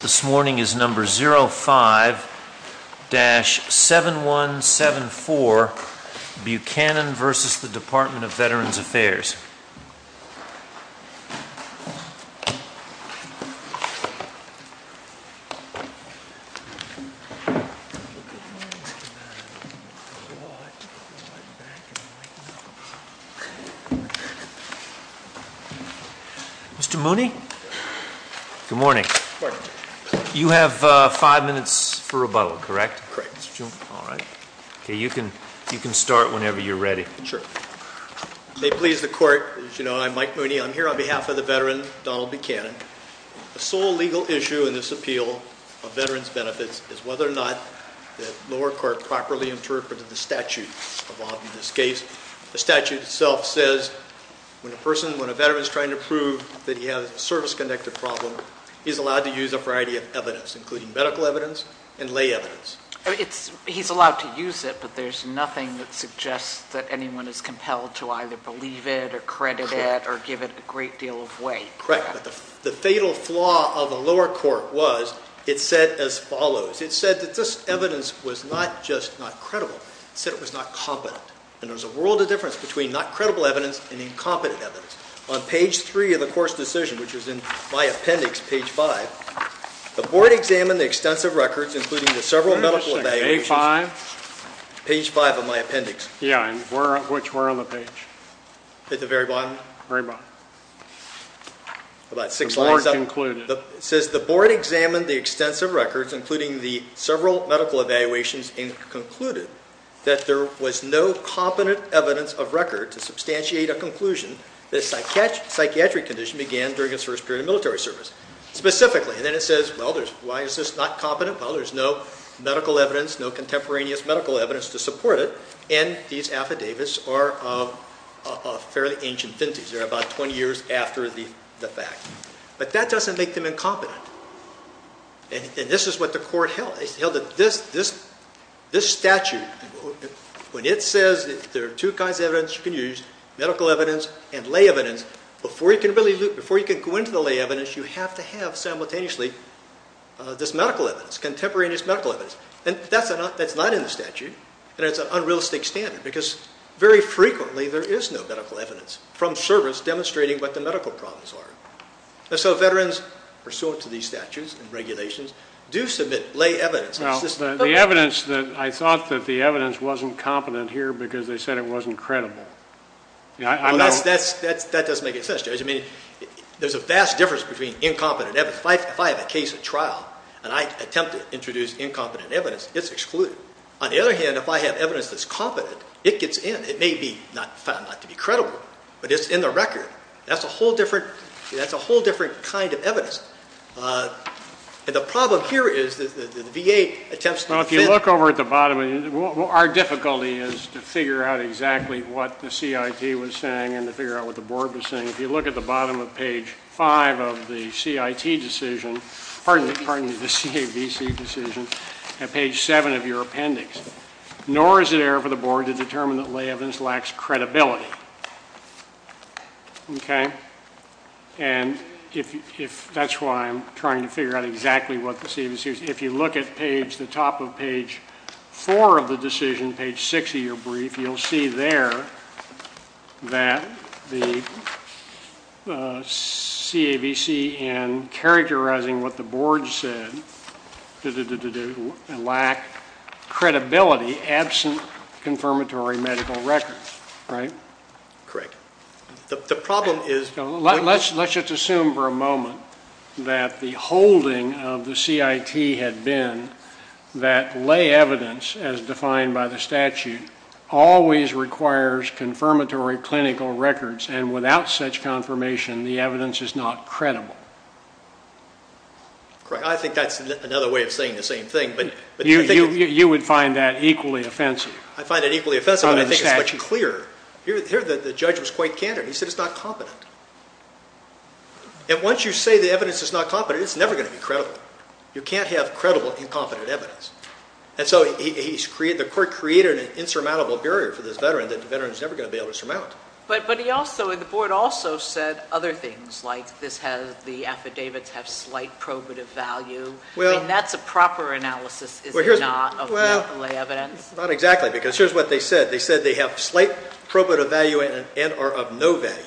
This morning is number 05-7174, Buchanan v. Department of Veterans Affairs. Mr. Mooney? Good morning. Good morning. You have five minutes for rebuttal, correct? Correct, Mr. Chairman. All right. Okay, you can start whenever you're ready. Sure. May it please the Court, as you know, I'm Mike Mooney. I'm here on behalf of the veteran, Donald Buchanan. The sole legal issue in this appeal of veterans' benefits is whether or not the lower court properly interpreted the statute involved in this case. The statute itself says when a person, when a veteran is trying to prove that he has a service-connected problem, he's allowed to use a variety of evidence, including medical evidence and lay evidence. He's allowed to use it, but there's nothing that suggests that anyone is compelled to either believe it or credit it or give it a great deal of weight. Correct, but the fatal flaw of the lower court was it said as follows. It said that this evidence was not just not credible. It said it was not competent, and there's a world of difference between not credible evidence and incompetent evidence. On page 3 of the court's decision, which is in my appendix, page 5, the board examined the extensive records, including the several medical evaluations. Page 5? Page 5 of my appendix. Yeah, and which were on the page? At the very bottom? Very bottom. About six lines up. The board concluded. That there was no competent evidence of record to substantiate a conclusion that a psychiatric condition began during his first period of military service. Specifically, and then it says, well, why is this not competent? Well, there's no medical evidence, no contemporaneous medical evidence to support it, and these affidavits are of fairly ancient vintage. They're about 20 years after the fact. But that doesn't make them incompetent, and this is what the court held. It held that this statute, when it says there are two kinds of evidence you can use, medical evidence and lay evidence, before you can go into the lay evidence, you have to have simultaneously this medical evidence, contemporaneous medical evidence. That's not in the statute, and it's an unrealistic standard because very frequently there is no medical evidence from service demonstrating what the medical problems are. So veterans, pursuant to these statutes and regulations, do submit lay evidence. The evidence that I thought that the evidence wasn't competent here because they said it wasn't credible. That doesn't make any sense, Judge. I mean, there's a vast difference between incompetent evidence. If I have a case at trial and I attempt to introduce incompetent evidence, it's excluded. On the other hand, if I have evidence that's competent, it gets in. It may be found not to be credible, but it's in the record. That's a whole different kind of evidence. And the problem here is the VA attempts to defend it. Well, if you look over at the bottom, our difficulty is to figure out exactly what the CIT was saying and to figure out what the board was saying. If you look at the bottom of page 5 of the CIT decision, pardon me, the CAVC decision, at page 7 of your appendix, nor is it error for the board to determine that lay evidence lacks credibility. Okay? And that's why I'm trying to figure out exactly what the CAVC is. If you look at the top of page 4 of the decision, page 6 of your brief, you'll see there that the CAVC, in characterizing what the board said, lack credibility absent confirmatory medical records. Right? Correct. The problem is... Let's just assume for a moment that the holding of the CIT had been that lay evidence, as defined by the statute, always requires confirmatory clinical records, and without such confirmation, the evidence is not credible. Correct. I think that's another way of saying the same thing, but... You would find that equally offensive? I find it equally offensive, but I think it's much clearer. Here the judge was quite candid. He said it's not competent. And once you say the evidence is not competent, it's never going to be credible. You can't have credible, incompetent evidence. And so the court created an insurmountable barrier for this veteran that the veteran's never going to be able to surmount. But the board also said other things, like the affidavits have slight probative value. I mean, that's a proper analysis, is it not, of medical evidence? Well, not exactly, because here's what they said. They said they have slight probative value and are of no value.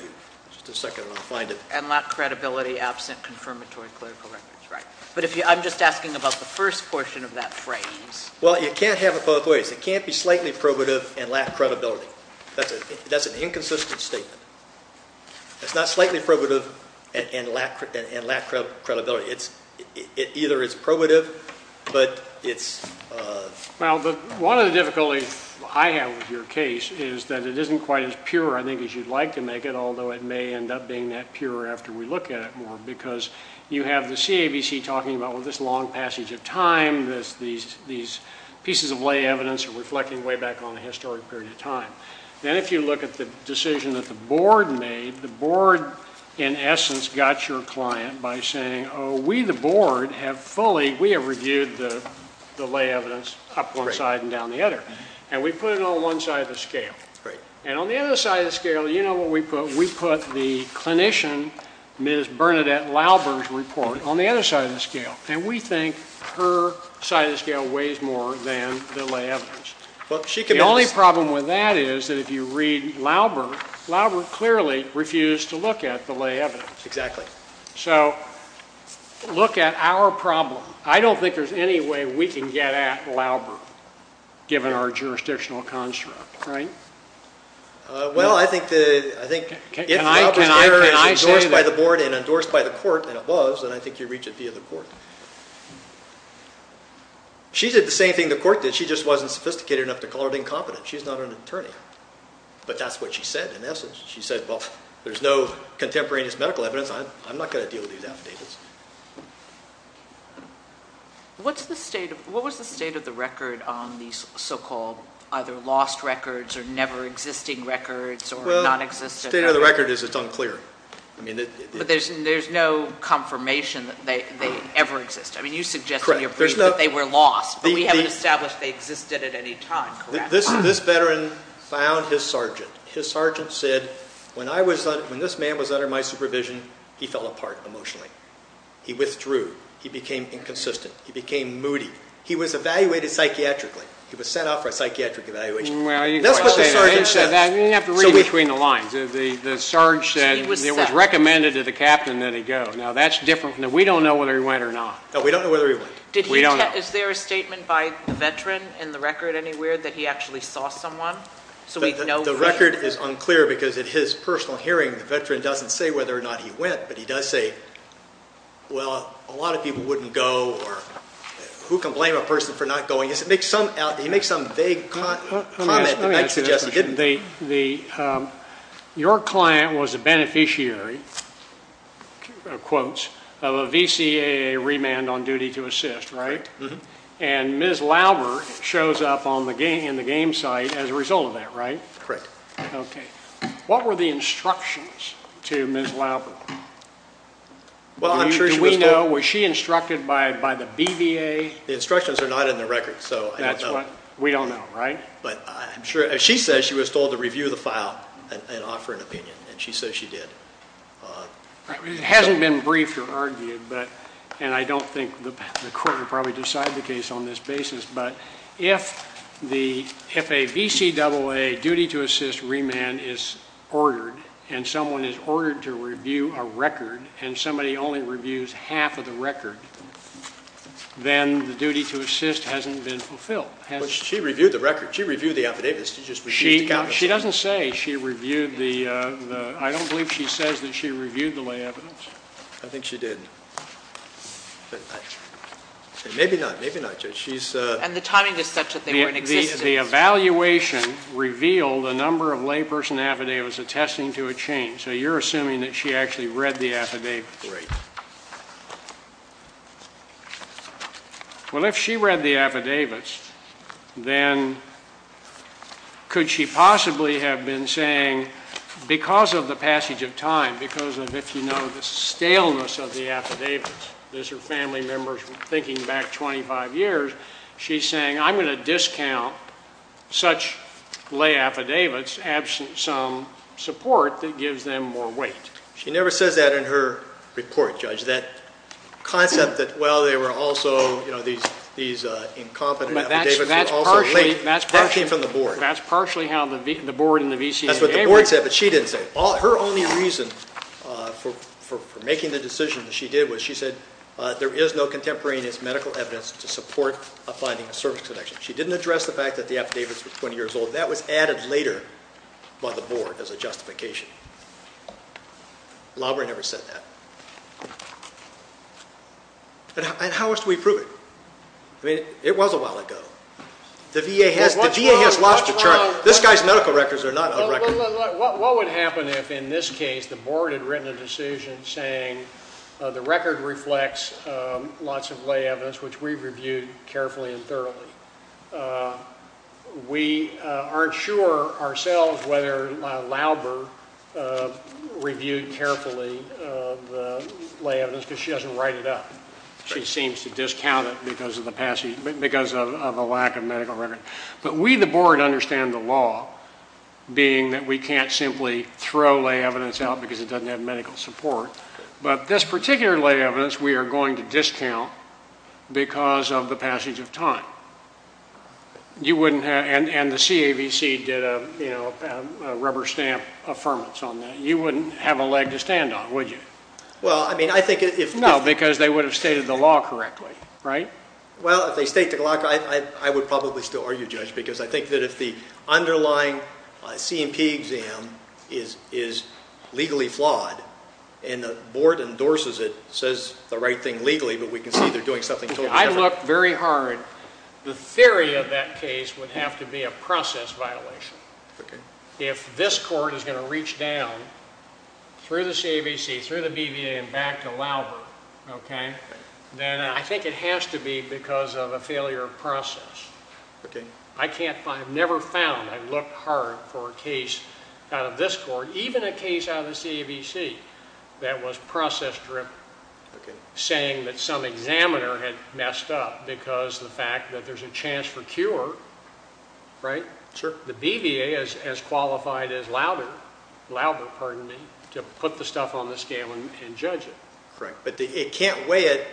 Just a second. I'll find it. And lack credibility absent confirmatory clinical records. Right. But I'm just asking about the first portion of that phrase. Well, you can't have it both ways. It can't be slightly probative and lack credibility. That's an inconsistent statement. It's not slightly probative and lack credibility. It either is probative, but it's... Well, one of the difficulties I have with your case is that it isn't quite as pure, I think, as you'd like to make it, although it may end up being that pure after we look at it more, because you have the CABC talking about, well, this long passage of time, these pieces of lay evidence are reflecting way back on a historic period of time. Then if you look at the decision that the board made, the board, in essence, got your client by saying, oh, we, the board, have fully, we have reviewed the lay evidence up one side and down the other, and we put it on one side of the scale. Right. And on the other side of the scale, you know what we put? We put the clinician, Ms. Bernadette Lauber's report on the other side of the scale, and we think her side of the scale weighs more than the lay evidence. The only problem with that is that if you read Lauber, Lauber clearly refused to look at the lay evidence. Exactly. So look at our problem. I don't think there's any way we can get at Lauber, given our jurisdictional construct, right? Well, I think if Lauber's error is endorsed by the board and endorsed by the court and above, then I think you reach it via the court. She did the same thing the court did. She just wasn't sophisticated enough to call it incompetent. She's not an attorney. But that's what she said, in essence. She said, well, there's no contemporaneous medical evidence. I'm not going to deal with these affidavits. What was the state of the record on these so-called either lost records or never existing records or nonexistent? Well, the state of the record is it's unclear. But there's no confirmation that they ever existed. I mean, you suggested in your brief that they were lost, but we haven't established they existed at any time, correct? This veteran found his sergeant. His sergeant said, when this man was under my supervision, he fell apart emotionally. He withdrew. He became inconsistent. He became moody. He was evaluated psychiatrically. He was sent off for a psychiatric evaluation. That's what the sergeant said. You didn't have to read between the lines. The sergeant said it was recommended to the captain that he go. Now, that's different. We don't know whether he went or not. No, we don't know whether he went. We don't know. Is there a statement by the veteran in the record anywhere that he actually saw someone? The record is unclear because in his personal hearing, the veteran doesn't say whether or not he went, but he does say, well, a lot of people wouldn't go, or who can blame a person for not going? He makes some vague comment that I suggested. Let me ask you this. Your client was a beneficiary, in quotes, of a VCAA remand on duty to assist, right? And Ms. Lauber shows up in the game site as a result of that, right? Correct. Okay. What were the instructions to Ms. Lauber? Well, I'm sure she was told. Do we know? Was she instructed by the BVA? The instructions are not in the record, so I don't know. That's right. We don't know, right? But I'm sure, as she says, she was told to review the file and offer an opinion, and she says she did. It hasn't been briefed or argued, and I don't think the court will probably decide the case on this basis, but if a VCAA duty to assist remand is ordered and someone is ordered to review a record and somebody only reviews half of the record, then the duty to assist hasn't been fulfilled. But she reviewed the record. She reviewed the affidavits. She just reviewed the copies. She doesn't say she reviewed the – I don't believe she says that she reviewed the lay evidence. I think she did. Maybe not. And the timing is such that they were in existence. The evaluation revealed a number of layperson affidavits attesting to a change, so you're assuming that she actually read the affidavits. Right. Well, if she read the affidavits, then could she possibly have been saying, because of the passage of time, because of, if you know, the staleness of the affidavits, as her family members were thinking back 25 years, she's saying, I'm going to discount such lay affidavits absent some support that gives them more weight. She never says that in her report, Judge. That concept that, well, they were also, you know, these incompetent affidavits were also linked, that came from the board. That's partially how the board and the VCAA – That's what the board said, but she didn't say it. Her only reason for making the decision that she did was she said, there is no contemporaneous medical evidence to support a finding of service connection. She didn't address the fact that the affidavits were 20 years old. That was added later by the board as a justification. Laubrie never said that. And how else do we prove it? I mean, it was a while ago. The VA has lost the charge. This guy's medical records are not a record. What would happen if, in this case, the board had written a decision saying the record reflects lots of lay evidence, which we've reviewed carefully and thoroughly. We aren't sure ourselves whether Laubrie reviewed carefully the lay evidence because she doesn't write it up. She seems to discount it because of the lack of medical record. But we, the board, understand the law, being that we can't simply throw lay evidence out because it doesn't have medical support. But this particular lay evidence we are going to discount because of the passage of time. And the CAVC did a rubber-stamp affirmance on that. You wouldn't have a leg to stand on, would you? No, because they would have stated the law correctly, right? Well, if they state the law, I would probably still argue, Judge, because I think that if the underlying C&P exam is legally flawed and the board endorses it, says the right thing legally, but we can see they're doing something totally different. I looked very hard. The theory of that case would have to be a process violation. If this court is going to reach down through the CAVC, through the BVA, and back to Laubrie, then I think it has to be because of a failure of process. I've never found, I've looked hard for a case out of this court, even a case out of the CAVC that was process-driven, saying that some examiner had messed up because of the fact that there's a chance for cure. The BVA is as qualified as Laubrie to put the stuff on the scale and judge it. Correct. But it can't weigh it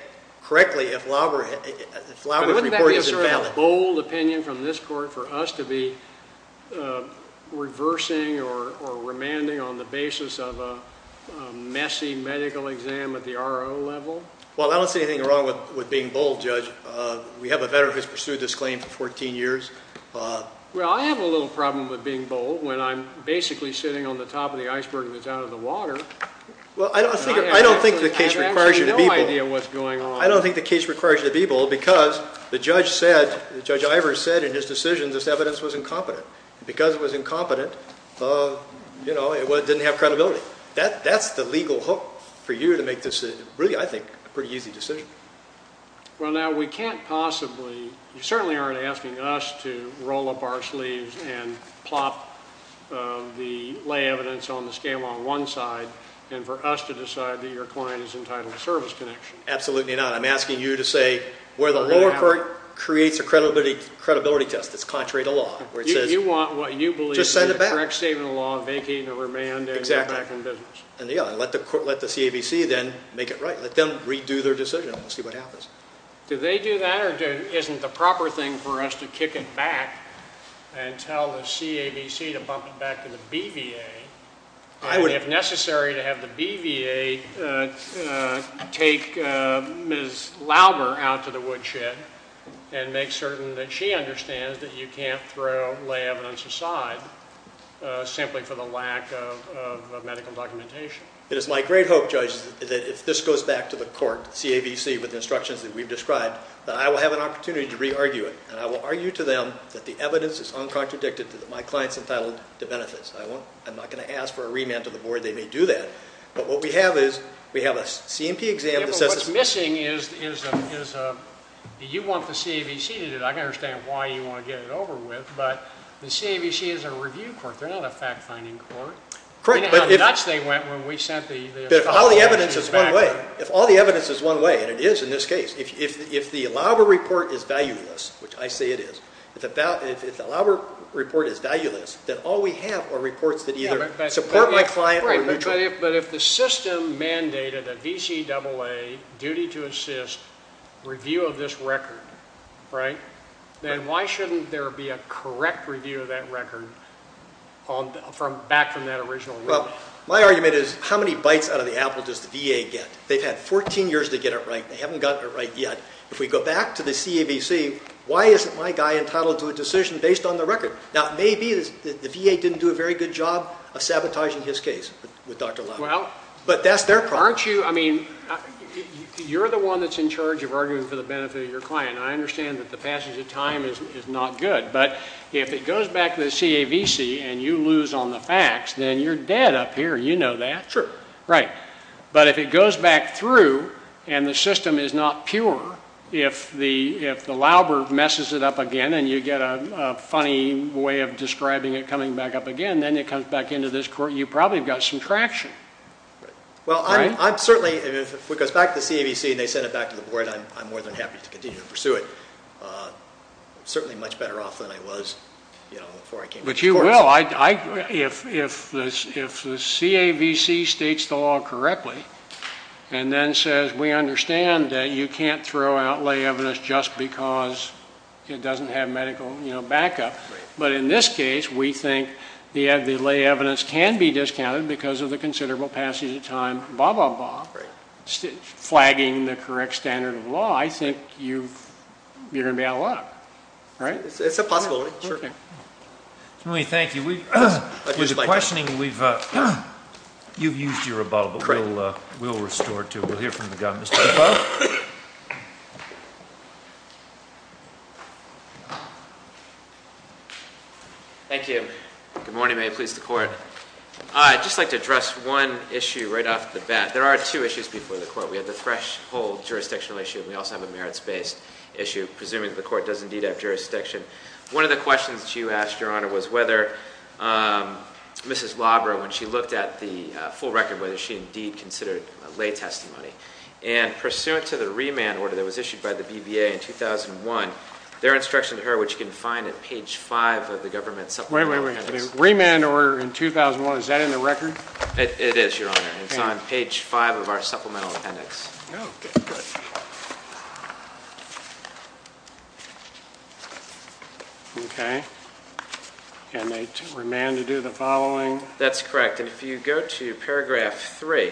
correctly if Laubrie's report is invalid. Wouldn't that be a sort of bold opinion from this court for us to be reversing or remanding on the basis of a messy medical exam at the RO level? Well, I don't see anything wrong with being bold, Judge. We have a veteran who has pursued this claim for 14 years. Well, I have a little problem with being bold when I'm basically sitting on the top of the iceberg and it's out of the water. Well, I don't think the case requires you to be bold. I have absolutely no idea what's going on. I don't think the case requires you to be bold because the judge said, Judge Ivers said in his decision this evidence was incompetent. Because it was incompetent, you know, it didn't have credibility. That's the legal hook for you to make this really, I think, a pretty easy decision. Well, now we can't possibly, you certainly aren't asking us to roll up our sleeves and plop the lay evidence on the scale on one side and for us to decide that your client is entitled to service connection. Absolutely not. I'm asking you to say where the lower court creates a credibility test that's contrary to law. You want what you believe is the correct statement of the law, vacating or remand, and you're back in business. Exactly. And, yeah, let the CAVC then make it right. Let them redo their decision and see what happens. Do they do that or isn't the proper thing for us to kick it back and tell the CAVC to bump it back to the BVA? If necessary, to have the BVA take Ms. Lauber out to the woodshed and make certain that she understands that you can't throw lay evidence aside simply for the lack of medical documentation. It is my great hope, Judge, that if this goes back to the court, the CAVC with the instructions that we've described, that I will have an opportunity to re-argue it, and I will argue to them that the evidence is uncontradicted that my client's entitled to benefits. I'm not going to ask for a remand to the board. They may do that. But what we have is we have a C&P exam that says it's missing. Yeah, but what's missing is you want the CAVC to do it. I can understand why you want to get it over with, but the CAVC is a review court. They're not a fact-finding court. Correct, but if all the evidence is one way, and it is in this case, if the Lauber report is valueless, which I say it is, if the Lauber report is valueless, then all we have are reports that either support my client or are neutral. But if the system mandated a VCAA duty to assist review of this record, then why shouldn't there be a correct review of that record back from that original review? Well, my argument is how many bites out of the apple does the VA get? They've had 14 years to get it right. They haven't gotten it right yet. If we go back to the CAVC, why isn't my guy entitled to a decision based on the record? Now, it may be the VA didn't do a very good job of sabotaging his case with Dr. Lauber. But that's their problem. You're the one that's in charge of arguing for the benefit of your client, and I understand that the passage of time is not good. But if it goes back to the CAVC and you lose on the facts, then you're dead up here. You know that. Sure. Right. But if it goes back through and the system is not pure, if the Lauber messes it up again and you get a funny way of describing it coming back up again, then it comes back into this court, you've probably got some traction. Well, I'm certainly, if it goes back to the CAVC and they send it back to the board, I'm more than happy to continue to pursue it. I'm certainly much better off than I was before I came to the courts. But you will. If the CAVC states the law correctly and then says we understand that you can't throw out lay evidence just because it doesn't have medical backup, but in this case we think the lay evidence can be discounted because of the considerable passage of time, blah, blah, blah, flagging the correct standard of law, I think you're going to be out of luck. Right? It's a possibility. Certainly. Thank you. With the questioning, you've used your rebuttal, but we'll restore it to you. We'll hear from the guy. Mr. Tufo? Thank you. Good morning. May it please the Court. I'd just like to address one issue right off the bat. There are two issues before the Court. We have the threshold jurisdictional issue and we also have a merits-based issue, presuming the Court does indeed have jurisdiction. One of the questions that you asked, Your Honor, was whether Mrs. Labra, when she looked at the full record, whether she indeed considered lay testimony. And pursuant to the remand order that was issued by the BBA in 2001, there are instructions to her which you can find at page 5 of the Government Supplemental Appendix. Wait, wait, wait. Remand order in 2001, is that in the record? It is, Your Honor. It's on page 5 of our Supplemental Appendix. Okay, good. Okay. Can they remand to do the following? That's correct. And if you go to paragraph 3,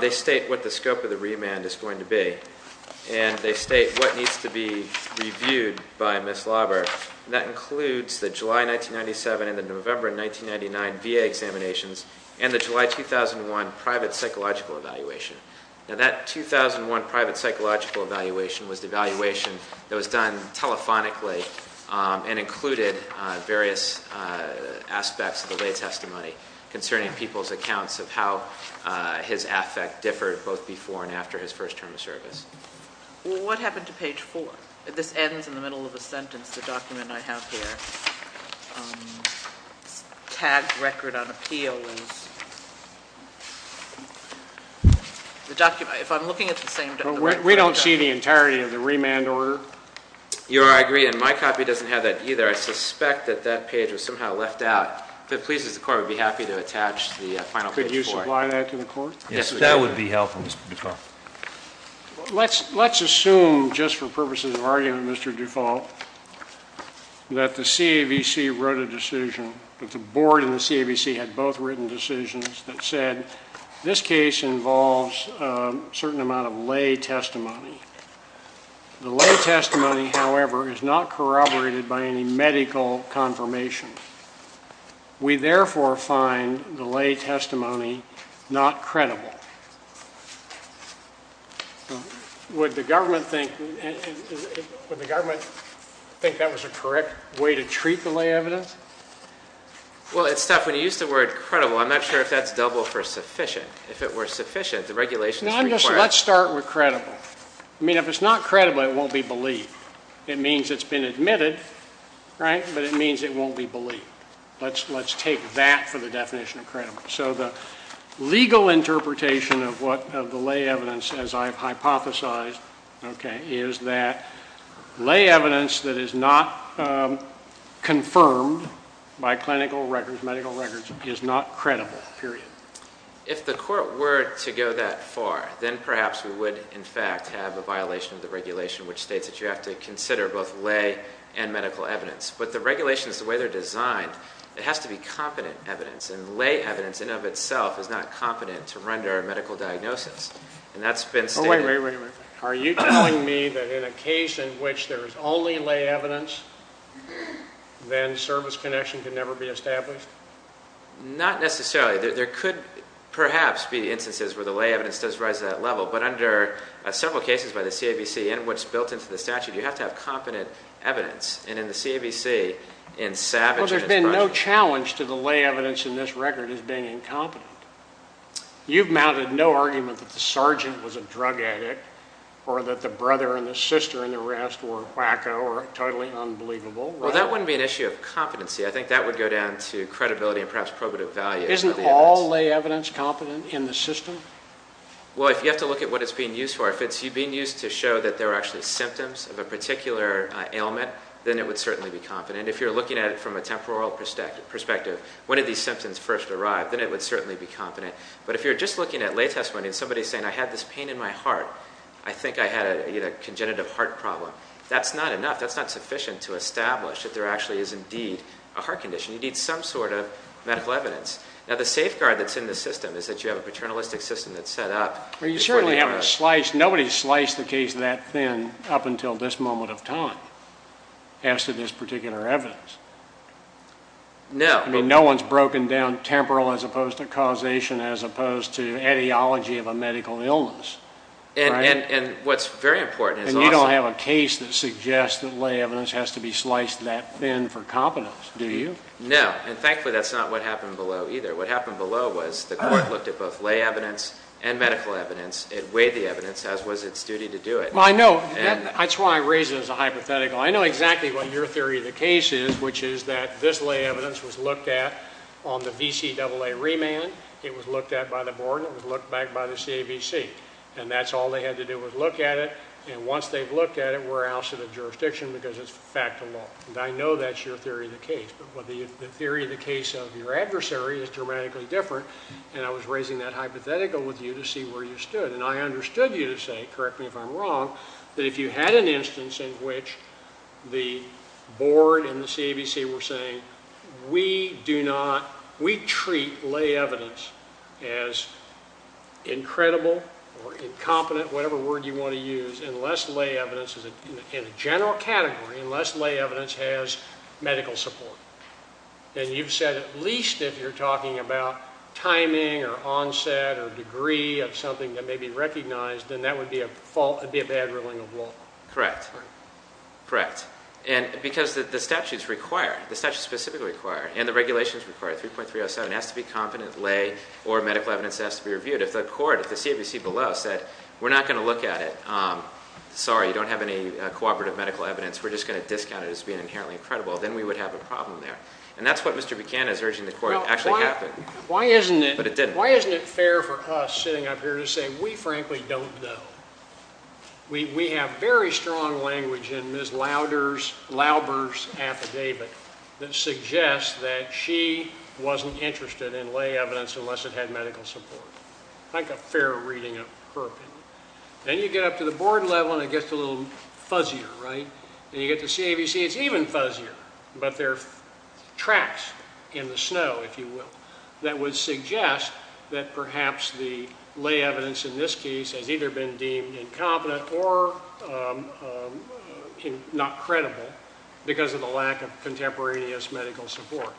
they state what the scope of the remand is going to be. And they state what needs to be reviewed by Mrs. Labra. That includes the July 1997 and the November 1999 VA examinations and the July 2001 private psychological evaluation. Now that 2001 private psychological evaluation was the evaluation that was done telephonically and included various aspects of the lay testimony concerning people's accounts of how his affect differed both before and after his first term of service. Well, what happened to page 4? This ends in the middle of a sentence, the document I have here. Tagged record on appeal is... The document, if I'm looking at the same document... We don't see the entirety of the remand order. Your Honor, I agree, and my copy doesn't have that either. I suspect that that page was somehow left out. If it pleases the Court, I would be happy to attach the final page 4. Could you supply that to the Court? Yes, we could. That would be helpful, Mr. Dufault. Let's assume, just for purposes of argument, Mr. Dufault, that the CAVC wrote a decision, that the Board and the CAVC had both written decisions that said this case involves a certain amount of lay testimony. The lay testimony, however, is not corroborated by any medical confirmation. We therefore find the lay testimony not credible. Would the government think... Would the government think that was a correct way to treat the lay evidence? Well, it's tough when you use the word credible. I'm not sure if that's double for sufficient. If it were sufficient, the regulations require... Let's start with credible. I mean, if it's not credible, it won't be believed. It means it's been admitted, right? But it means it won't be believed. Let's take that for the definition of credible. So the legal interpretation of the lay evidence, as I've hypothesized, okay, is that lay evidence that is not confirmed by clinical records, is not credible, period. If the court were to go that far, then perhaps we would, in fact, have a violation of the regulation which states that you have to consider both lay and medical evidence. But the regulations, the way they're designed, it has to be competent evidence. And lay evidence in and of itself is not competent to render a medical diagnosis. And that's been stated... Oh, wait, wait, wait. Are you telling me that in a case in which there's only lay evidence, then service connection can never be established? Not necessarily. There could perhaps be instances where the lay evidence does rise to that level. But under several cases by the CAVC and what's built into the statute, you have to have competent evidence. And in the CAVC, in savage... Well, there's been no challenge to the lay evidence in this record as being incompetent. You've mounted no argument that the sergeant was a drug addict or that the brother and the sister in the arrest were a wacko or totally unbelievable. Well, that wouldn't be an issue of competency. I think that would go down to credibility and perhaps probative value. Isn't all lay evidence competent in the system? Well, if you have to look at what it's being used for, if it's being used to show that there are actually symptoms of a particular ailment, then it would certainly be competent. And if you're looking at it from a temporal perspective, when did these symptoms first arrive, then it would certainly be competent. But if you're just looking at lay testimony and somebody's saying, I had this pain in my heart, I think I had a congenitive heart problem, that's not enough. That's not sufficient to establish that there actually is indeed a heart condition. You need some sort of medical evidence. Now, the safeguard that's in the system is that you have a paternalistic system that's set up. Well, you certainly haven't sliced... Nobody's sliced the case that thin up until this moment of time as to this particular evidence. No. I mean, no one's broken down temporal as opposed to causation as opposed to etiology of a medical illness. And what's very important is also... There's no case that suggests that lay evidence has to be sliced that thin for competence, do you? No. And thankfully, that's not what happened below either. What happened below was the court looked at both lay evidence and medical evidence. It weighed the evidence, as was its duty to do it. Well, I know. That's why I raise it as a hypothetical. I know exactly what your theory of the case is, which is that this lay evidence was looked at on the VCAA remand, it was looked at by the board, and it was looked back by the CABC. And that's all they had to do was look at it, and once they've looked at it, we're ousted of jurisdiction because it's a fact of law. And I know that's your theory of the case, but the theory of the case of your adversary is dramatically different, and I was raising that hypothetical with you to see where you stood. And I understood you to say, correct me if I'm wrong, that if you had an instance in which the board and the CABC were saying, we treat lay evidence as incredible or incompetent, whatever word you want to use, in a general category, unless lay evidence has medical support. And you've said at least if you're talking about timing or onset or degree of something that may be recognized, then that would be a bad ruling of law. Correct. Correct. Because the statutes require, the statutes specifically require, and the regulations require, 3.307 has to be competent lay or medical evidence that has to be reviewed. If the court, if the CABC below said, we're not going to look at it, sorry, you don't have any cooperative medical evidence, we're just going to discount it as being inherently incredible, then we would have a problem there. And that's what Mr. Buchanan is urging the court actually happened. But it didn't. Why isn't it fair for us sitting up here to say, we frankly don't know? We have very strong language in Ms. Lauber's affidavit that suggests that she wasn't interested in lay evidence unless it had medical support. I think a fair reading of her opinion. Then you get up to the board level and it gets a little fuzzier, right? And you get to CABC, it's even fuzzier, but there are tracks in the snow, if you will, that would suggest that perhaps the lay evidence in this case has either been deemed incompetent or not credible because of the lack of contemporaneous medical support.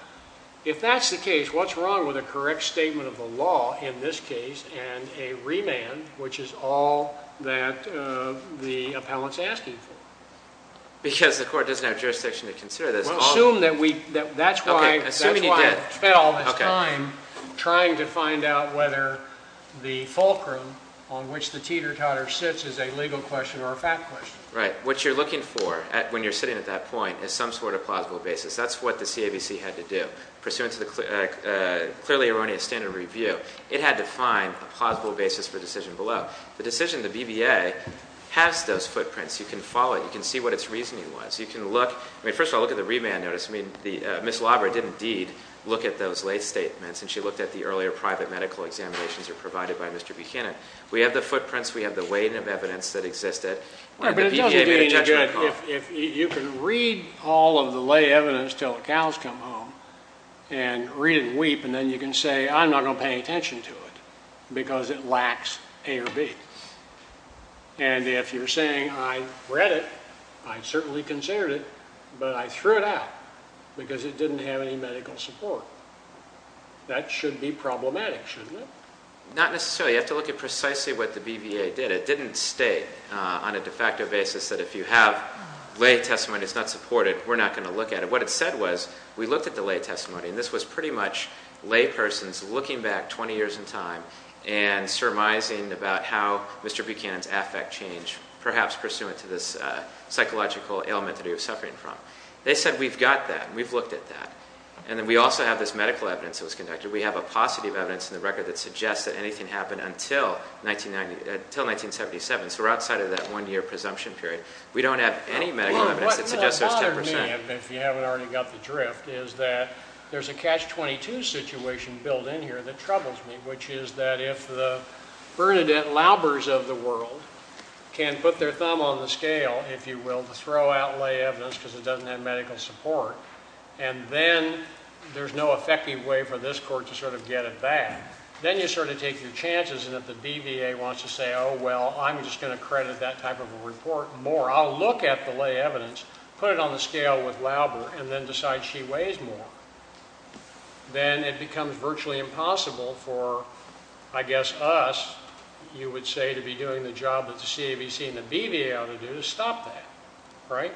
If that's the case, what's wrong with a correct statement of the law in this case and a remand, which is all that the appellant's asking for? Because the court doesn't have jurisdiction to consider this. Well, assume that we, that's why I've spent all this time trying to find out whether the fulcrum on which the teeter-totter sits is a legal question or a fact question. Right. What you're looking for when you're sitting at that point is some sort of plausible basis. That's what the CABC had to do. Pursuant to the clearly erroneous standard of review, it had to find a plausible basis for the decision below. The decision of the BBA has those footprints. You can follow it. You can see what its reasoning was. You can look. I mean, first of all, look at the remand notice. I mean, Ms. Labra didn't, indeed, look at those lay statements, and she looked at the earlier private medical examinations that were provided by Mr. Buchanan. We have the footprints. We have the weight of evidence that existed. But it doesn't mean that you can read all of the lay evidence until the cows come home and read it and weep, and then you can say I'm not going to pay attention to it because it lacks A or B. And if you're saying I read it, I certainly considered it, but I threw it out because it didn't have any medical support. That should be problematic, shouldn't it? Not necessarily. You have to look at precisely what the BBA did. It didn't state on a de facto basis that if you have lay testimony that's not supported, we're not going to look at it. What it said was we looked at the lay testimony, and this was pretty much lay persons looking back 20 years in time and surmising about how Mr. Buchanan's affect changed, perhaps pursuant to this psychological ailment that he was suffering from. They said we've got that. We've looked at that. And then we also have this medical evidence that was conducted. We have a paucity of evidence in the record that suggests that anything happened until 1977. So we're outside of that one-year presumption period. We don't have any medical evidence that suggests there was 10%. What bothers me, if you haven't already got the drift, is that there's a catch-22 situation built in here that troubles me, which is that if the Bernadette Laubers of the world can put their thumb on the scale, if you will, to throw out lay evidence because it doesn't have medical support, and then there's no effective way for this court to sort of get it back, then you sort of take your chances and if the BBA wants to say, oh, well, I'm just going to credit that type of a report more, I'll look at the lay evidence, put it on the scale with Lauber, and then decide she weighs more, then it becomes virtually impossible for, I guess, us, you would say, to be doing the job that the CAVC and the BBA ought to do to stop that, right?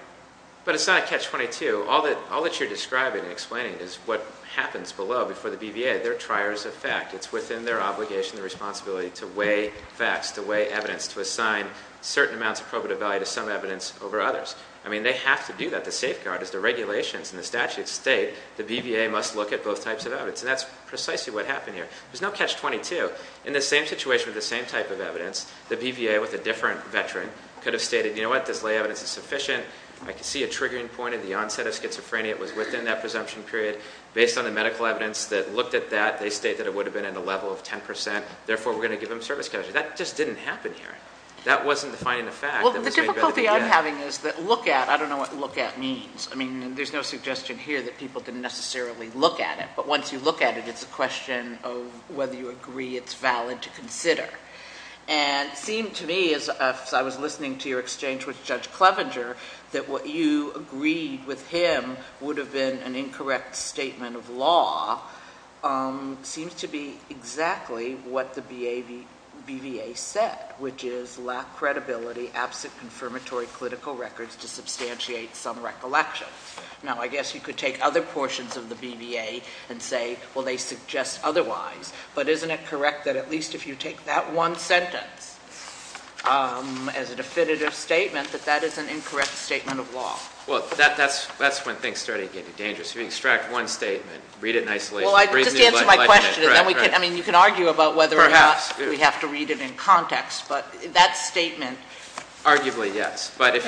But it's not a catch-22. All that you're describing and explaining is what happens below before the BBA, their trier's effect. It's within their obligation and responsibility to weigh facts, to weigh evidence, to assign certain amounts of probative value to some evidence over others. I mean, they have to do that. The safeguard is the regulations and the statutes state the BBA must look at both types of evidence, and that's precisely what happened here. There's no catch-22. In the same situation with the same type of evidence, the BBA with a different veteran could have stated, you know what, this lay evidence is sufficient. I can see a triggering point in the onset of schizophrenia. It was within that presumption period. Based on the medical evidence that looked at that, they state that it would have been in the level of 10 percent, therefore we're going to give them service caution. That just didn't happen here. That wasn't defining the fact. Well, the difficulty I'm having is that look at, I don't know what look at means. I mean, there's no suggestion here that people can necessarily look at it. But once you look at it, it's a question of whether you agree it's valid to consider. And it seemed to me, as I was listening to your exchange with Judge Clevenger, that what you agreed with him would have been an incorrect statement of law seems to be exactly what the BBA said, which is lack credibility, absent confirmatory clinical records to substantiate some recollections. Now, I guess you could take other portions of the BBA and say, well, they suggest otherwise. But isn't it correct that at least if you take that one sentence as a definitive statement, that that is an incorrect statement of law? Well, that's when things start to get dangerous. You extract one statement, read it in isolation. Well, just answer my question. I mean, you can argue about whether or not we have to read it in context. But that statement. Arguably, yes. That's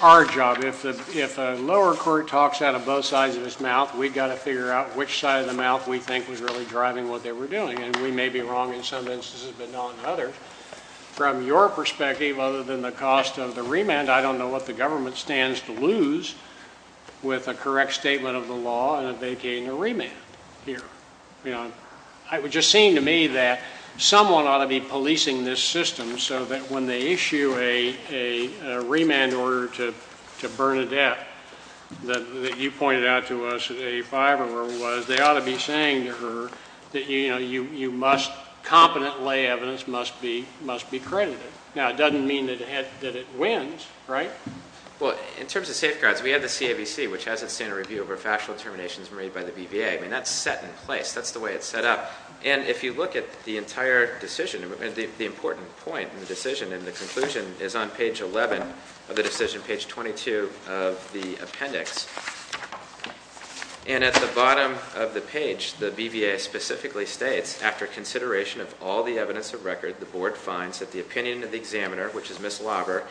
our job. If a lower court talks out of both sides of its mouth, we've got to figure out which side of the mouth we think was really driving what they were doing. And we may be wrong in some instances but not in others. From your perspective, other than the cost of the remand, I don't know what the government stands to lose with a correct statement of the law and vacating a remand here. You know, it would just seem to me that someone ought to be policing this system so that when they issue a remand order to Bernadette that you pointed out to us at 85 or whatever it was, they ought to be saying to her that, you know, you must, competent lay evidence must be credited. Now, it doesn't mean that it wins, right? Well, in terms of safeguards, we have the CAVC, which has its standard review over factual determinations made by the BVA. I mean, that's set in place. That's the way it's set up. And if you look at the entire decision, the important point in the decision, and the conclusion is on page 11 of the decision, page 22 of the appendix. And at the bottom of the page, the BVA specifically states, after consideration of all the evidence of record, the board finds that the opinion of the examiner, which is Ms. Lauber,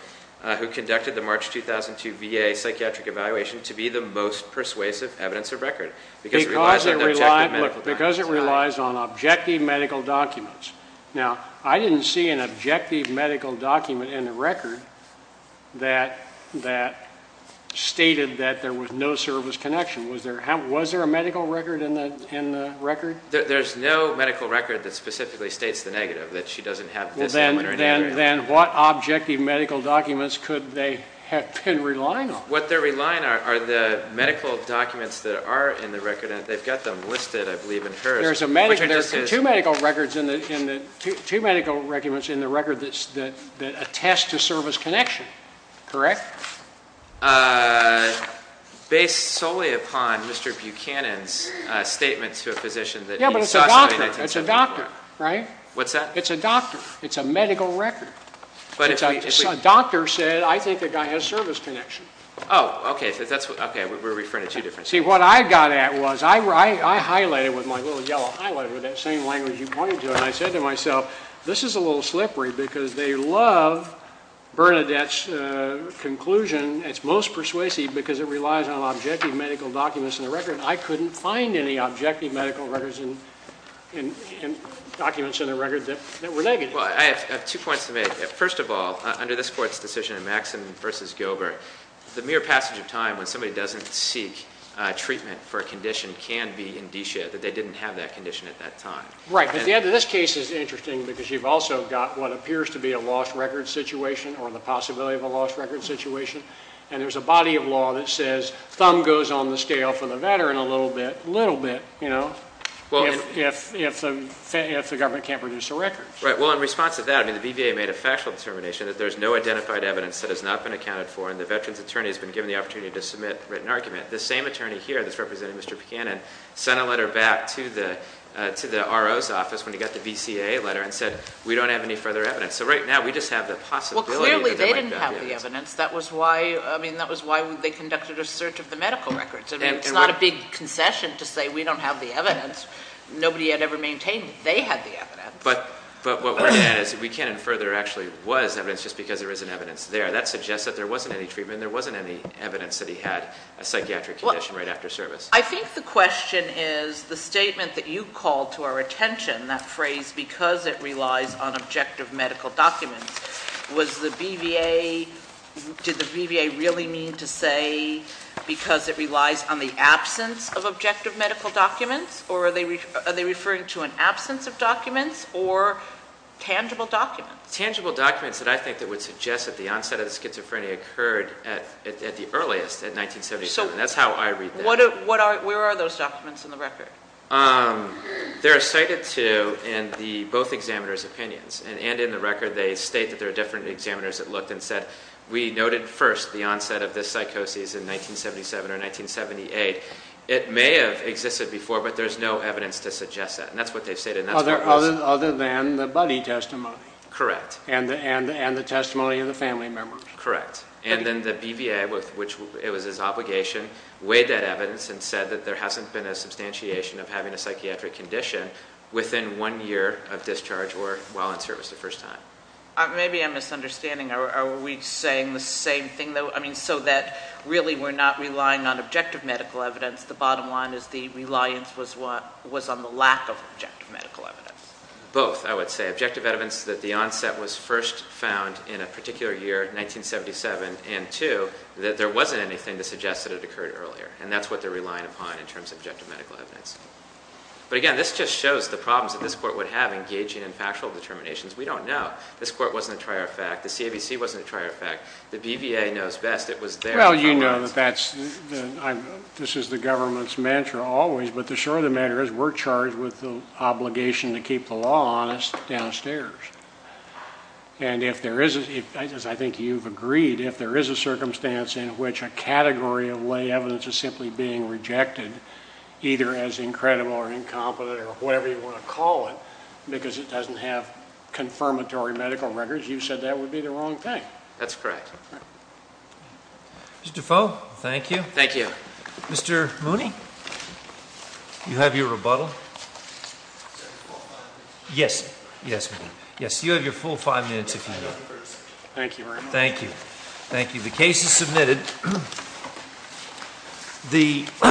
who conducted the March 2002 VA psychiatric evaluation, to be the most persuasive evidence of record. Because it relies on objective medical documents. Because it relies on objective medical documents. Now, I didn't see an objective medical document in the record that stated that there was no service connection. Was there a medical record in the record? There's no medical record that specifically states the negative, that she doesn't have the examiner in the area. Then what objective medical documents could they have been relying on? What they're relying on are the medical documents that are in the record, and they've got them listed, I believe, in hers. There's two medical records in the record that attest to service connection, correct? Based solely upon Mr. Buchanan's statement to a physician that he saw something in 1974. Yeah, but it's a doctor. It's a doctor, right? What's that? It's a doctor. It's a medical record. A doctor said, I think the guy has service connection. Oh, okay. We're referring to two different things. See, what I got at was, I highlighted with my little yellow highlighter, that same language you pointed to, and I said to myself, this is a little slippery because they love Bernadette's conclusion. It's most persuasive because it relies on objective medical documents in the record. I couldn't find any objective medical records and documents in the record that were negative. Well, I have two points to make. First of all, under this Court's decision in Maxson v. Gilbert, the mere passage of time when somebody doesn't seek treatment for a condition can be indicia that they didn't have that condition at that time. Right, but the end of this case is interesting because you've also got what appears to be a lost record situation or the possibility of a lost record situation, and there's a body of law that says thumb goes on the scale for the veteran a little bit, a little bit, you know, if the government can't produce a record. Right. Well, in response to that, I mean, the BVA made a factual determination that there's no identified evidence that has not been accounted for and the veteran's attorney has been given the opportunity to submit a written argument. The same attorney here that's representing Mr. Buchanan sent a letter back to the RO's office when he got the VCA letter and said we don't have any further evidence. So right now we just have the possibility that there might be evidence. Well, clearly they didn't have the evidence. That was why, I mean, that was why they conducted a search of the medical records. I mean, it's not a big concession to say we don't have the evidence. Nobody had ever maintained they had the evidence. But what we're saying is that Buchanan further actually was evidence just because there isn't evidence there. That suggests that there wasn't any treatment and there wasn't any evidence that he had a psychiatric condition right after service. I think the question is the statement that you called to our attention, that phrase because it relies on objective medical documents, was the BVA, did the BVA really mean to say because it relies on the absence of objective medical documents or are they referring to an absence of documents or tangible documents? Tangible documents that I think that would suggest that the onset of schizophrenia occurred at the earliest, at 1977. That's how I read that. Where are those documents in the record? They're cited to in both examiners' opinions. And in the record they state that there are different examiners that looked and said we noted first the onset of this psychosis in 1977 or 1978. It may have existed before, but there's no evidence to suggest that. And that's what they've stated. Other than the buddy testimony. Correct. And the testimony of the family members. Correct. And then the BVA, which it was his obligation, weighed that evidence and said that there hasn't been a substantiation of having a psychiatric condition within one year of discharge or while in service the first time. Maybe I'm misunderstanding. Are we saying the same thing? I mean, so that really we're not relying on objective medical evidence. The bottom line is the reliance was on the lack of objective medical evidence. Both, I would say. Objective evidence that the onset was first found in a particular year, 1977, and two, that there wasn't anything to suggest that it occurred earlier. And that's what they're relying upon in terms of objective medical evidence. But, again, this just shows the problems that this court would have engaging in factual determinations. We don't know. This court wasn't a trier of fact. The CAVC wasn't a trier of fact. The BVA knows best. It was there. Well, you know that this is the government's mantra always, but the short of the matter is we're charged with the obligation to keep the law on us downstairs. And if there is, as I think you've agreed, if there is a circumstance in which a category of lay evidence is simply being rejected, either as incredible or incompetent or whatever you want to call it, because it doesn't have confirmatory medical records, you said that would be the wrong thing. That's correct. Mr. Foe, thank you. Thank you. Mr. Mooney, do you have your rebuttal? Yes. Yes, we do. Yes, you have your full five minutes if you need it. Thank you very much. Thank you. Thank you. The case is submitted.